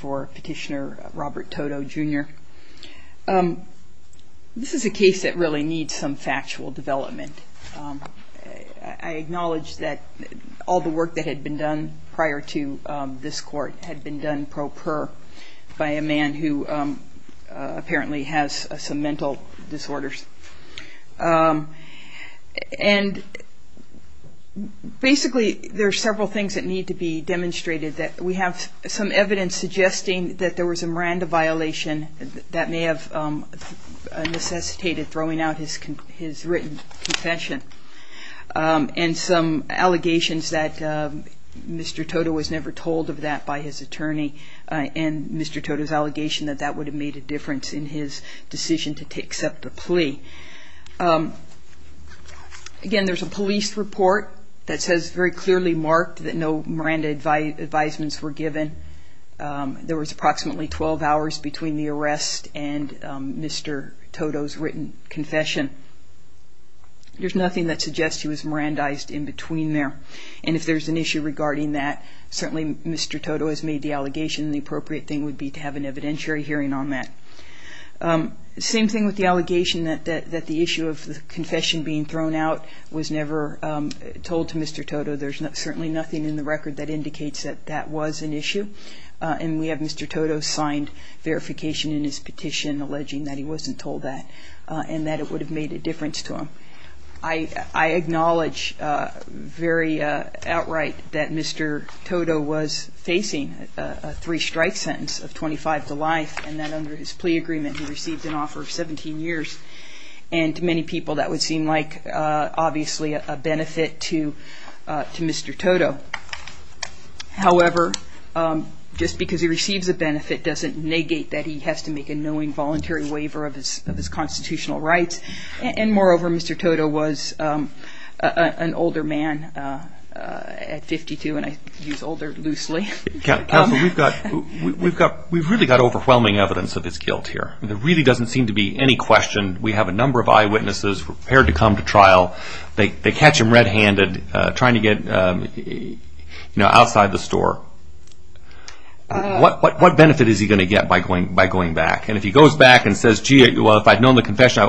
Petitioner Robert Toto Jr. This is a case that really needs some factual development. I acknowledge that all the work that had been done prior to this court had been done pro per by a man who apparently has some mental disorders. Basically there are several things that need to be demonstrated. We have some evidence suggesting that there was a Miranda violation that may have necessitated throwing out his written confession and some allegations that Mr. Toto was never told of that by his attorney and Mr. Toto's allegation that that would have made a difference in his decision to accept the plea. Again there is a police report that says very clearly marked that no Miranda advisements were given. There was approximately twelve hours between the arrest and Mr. Toto's written confession. There is nothing that suggests he was Mirandized in between there and if there is an issue regarding that certainly Mr. Toto has made the allegation and the appropriate thing would be to have an evidentiary hearing on that. Same thing with the allegation that the issue of the confession being thrown out was never told to Mr. Toto. There is certainly nothing in the record that indicates that that was an issue and we have Mr. Toto's signed verification in his petition alleging that he wasn't told that and that it would have made a difference to him. I acknowledge very outright that Mr. Toto was facing a three strike sentence of twenty five to life and that under his plea agreement he received an offer of seventeen years and to many people that would seem like obviously a benefit to Mr. Toto. However just because he receives a benefit doesn't negate that he has to make a knowing voluntary waiver of his constitutional rights and moreover Mr. Toto was an older man at fifty two and I use older loosely. Counsel we have really got overwhelming evidence of his guilt here. There really doesn't seem to be any question. We have a number of eyewitnesses prepared to come to trial. They catch him red handed trying to get outside the store. What benefit is he going to get by going back and if he goes back and says gee if I had known the confession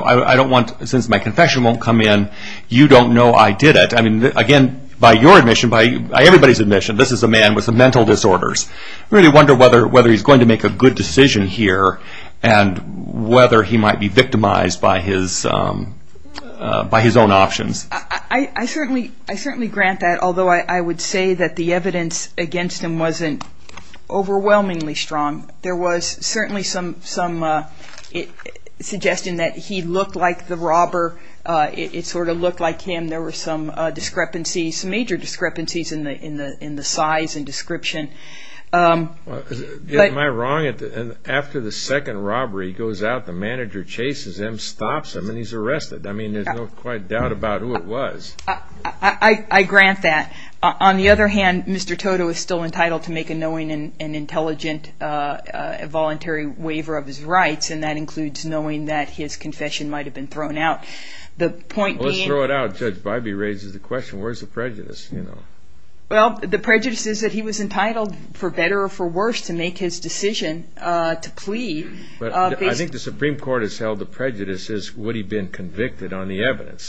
since my confession won't come in you don't know I did it. Again by your admission by everybody's admission this is a man with some mental disorders. I really wonder whether he is going to make a good lawyer or whether he might be victimized by his own options. I certainly grant that although I would say that the evidence against him wasn't overwhelmingly strong. There was certainly some suggestion that he looked like the robber. It sort of looked like him. There were some major discrepancies in the size and description. Am I wrong after the second interchanges and stops him and he is arrested. I mean there is no doubt about who it was. I grant that. On the other hand Mr. Toto is still entitled to make a knowing and intelligent voluntary waiver of his rights and that includes knowing that his confession might have been thrown out. The point being. Let's throw it out. Judge Bybee raises the question where is the prejudice. Well the prejudice is that he was entitled for better or for worse to make his decision to plead. I think the Supreme Court has held the prejudice as would he been convicted on the evidence.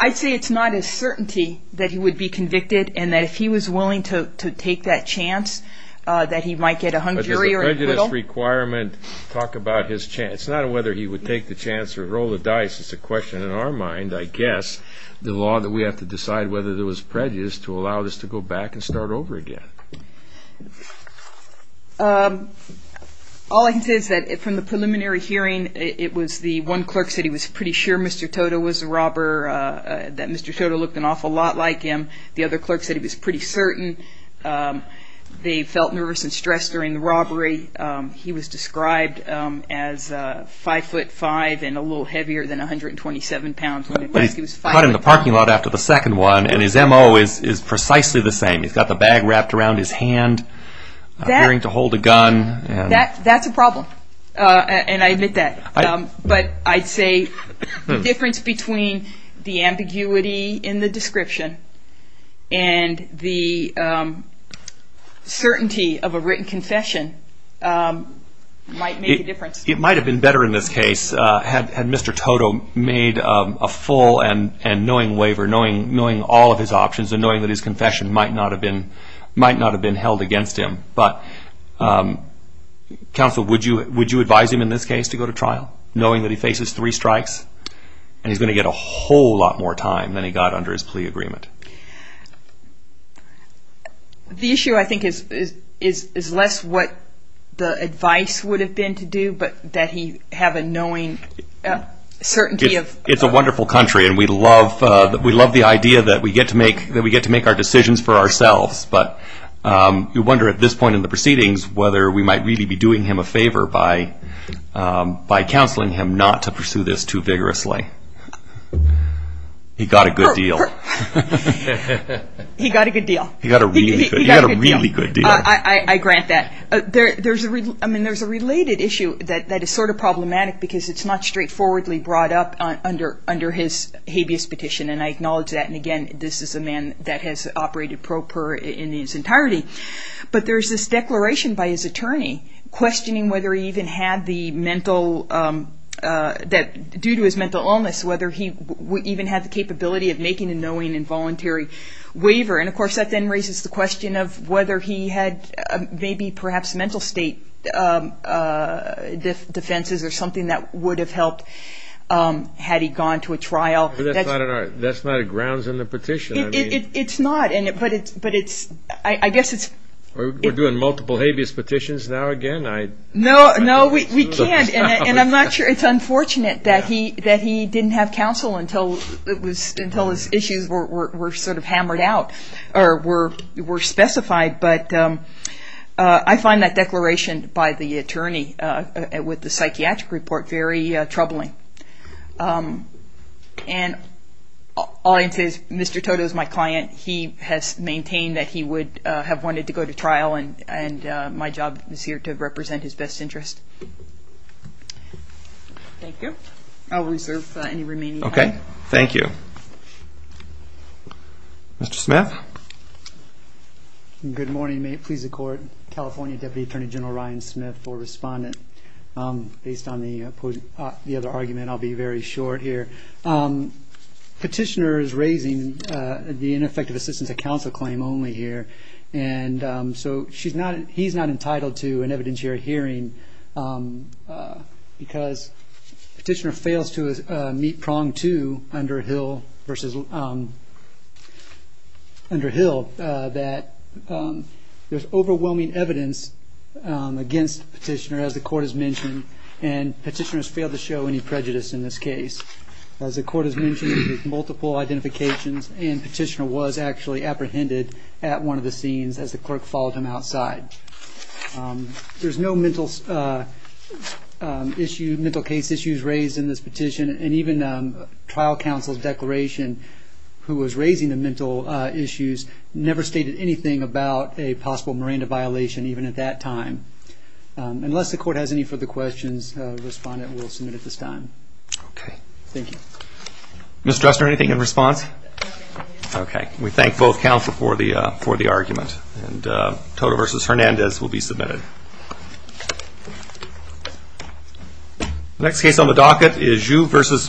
I'd say it's not a certainty that he would be convicted and that if he was willing to take that chance that he might get a hung jury. Does the prejudice requirement talk about his chance. It's not whether he would take the chance or roll the dice. It's a question in our mind I guess the law that we have to decide whether there over again. All I can say is that from the preliminary hearing it was the one clerk said he was pretty sure Mr. Toto was a robber that Mr. Toto looked an awful lot like him. The other clerk said he was pretty certain. They felt nervous and stressed during the robbery. He was described as 5 foot 5 and a little heavier than 127 pounds. But he's caught in a bag wrapped around his hand appearing to hold a gun. That's a problem and I admit that. But I'd say the difference between the ambiguity in the description and the certainty of a written confession might make a difference. It might have been better in this case had Mr. Toto made a full and knowing waiver knowing all of his options and knowing that his confession might not have been held against him. Counsel would you advise him in this case to go to trial knowing that he faces three strikes and he's going to get a whole lot more time than he got under his plea agreement? The issue I think is less what the advice would have been to do but that he have a knowing certainty. It's a wonderful country and we have to do things for ourselves. But you wonder at this point in the proceedings whether we might really be doing him a favor by counseling him not to pursue this too vigorously. He got a good deal. He got a good deal. He got a really good deal. I grant that. There's a related issue that is sort of problematic because it's not straightforwardly brought up under his habeas petition and I acknowledge that. And again this is a man that has operated pro per in his entirety. But there's this declaration by his attorney questioning whether he even had the mental that due to his mental illness whether he even had the capability of making a knowing involuntary waiver. And of course that then raises the question of whether he had maybe perhaps mental state defenses or something that would have helped him had he gone to a trial. That's not a grounds in the petition. It's not but I guess it's We're doing multiple habeas petitions now again? No we can't and I'm not sure it's unfortunate that he didn't have counsel until his issues were sort of hammered out or were specified but I find that declaration by the attorney with the psychiatric report very troubling. And all I can say is Mr. Toto is my client. He has maintained that he would have wanted to go to trial and my job is here to represent his best interest. Thank you. I'll reserve any remaining time. Okay. Thank you. Mr. Smith. Good morning. May it please the court. California Deputy Attorney General Ryan Smith for respondent. Based on the other argument I'll be very short here. Petitioner is raising the ineffective assistance of counsel claim only here and so he's not entitled to an evidentiary hearing because petitioner fails to meet prong two under Hill that there's overwhelming evidence against petitioner as the court has mentioned and petitioner has failed to show any prejudice in this case. As the court has mentioned multiple identifications and petitioner was actually apprehended at one of the scenes as the clerk followed him outside. There's no mental issue mental case issues raised in this petition and even trial counsel's declaration who was raising the mental issues never stated anything about a possible Miranda violation even at that time. Unless the court has any further questions respondent will submit at this time. Okay. Thank you. Ms. Dresner anything in response? We thank both counsel for the argument and Toto versus Hernandez will be submitted. Next case on the docket is Joux versus Mukasey.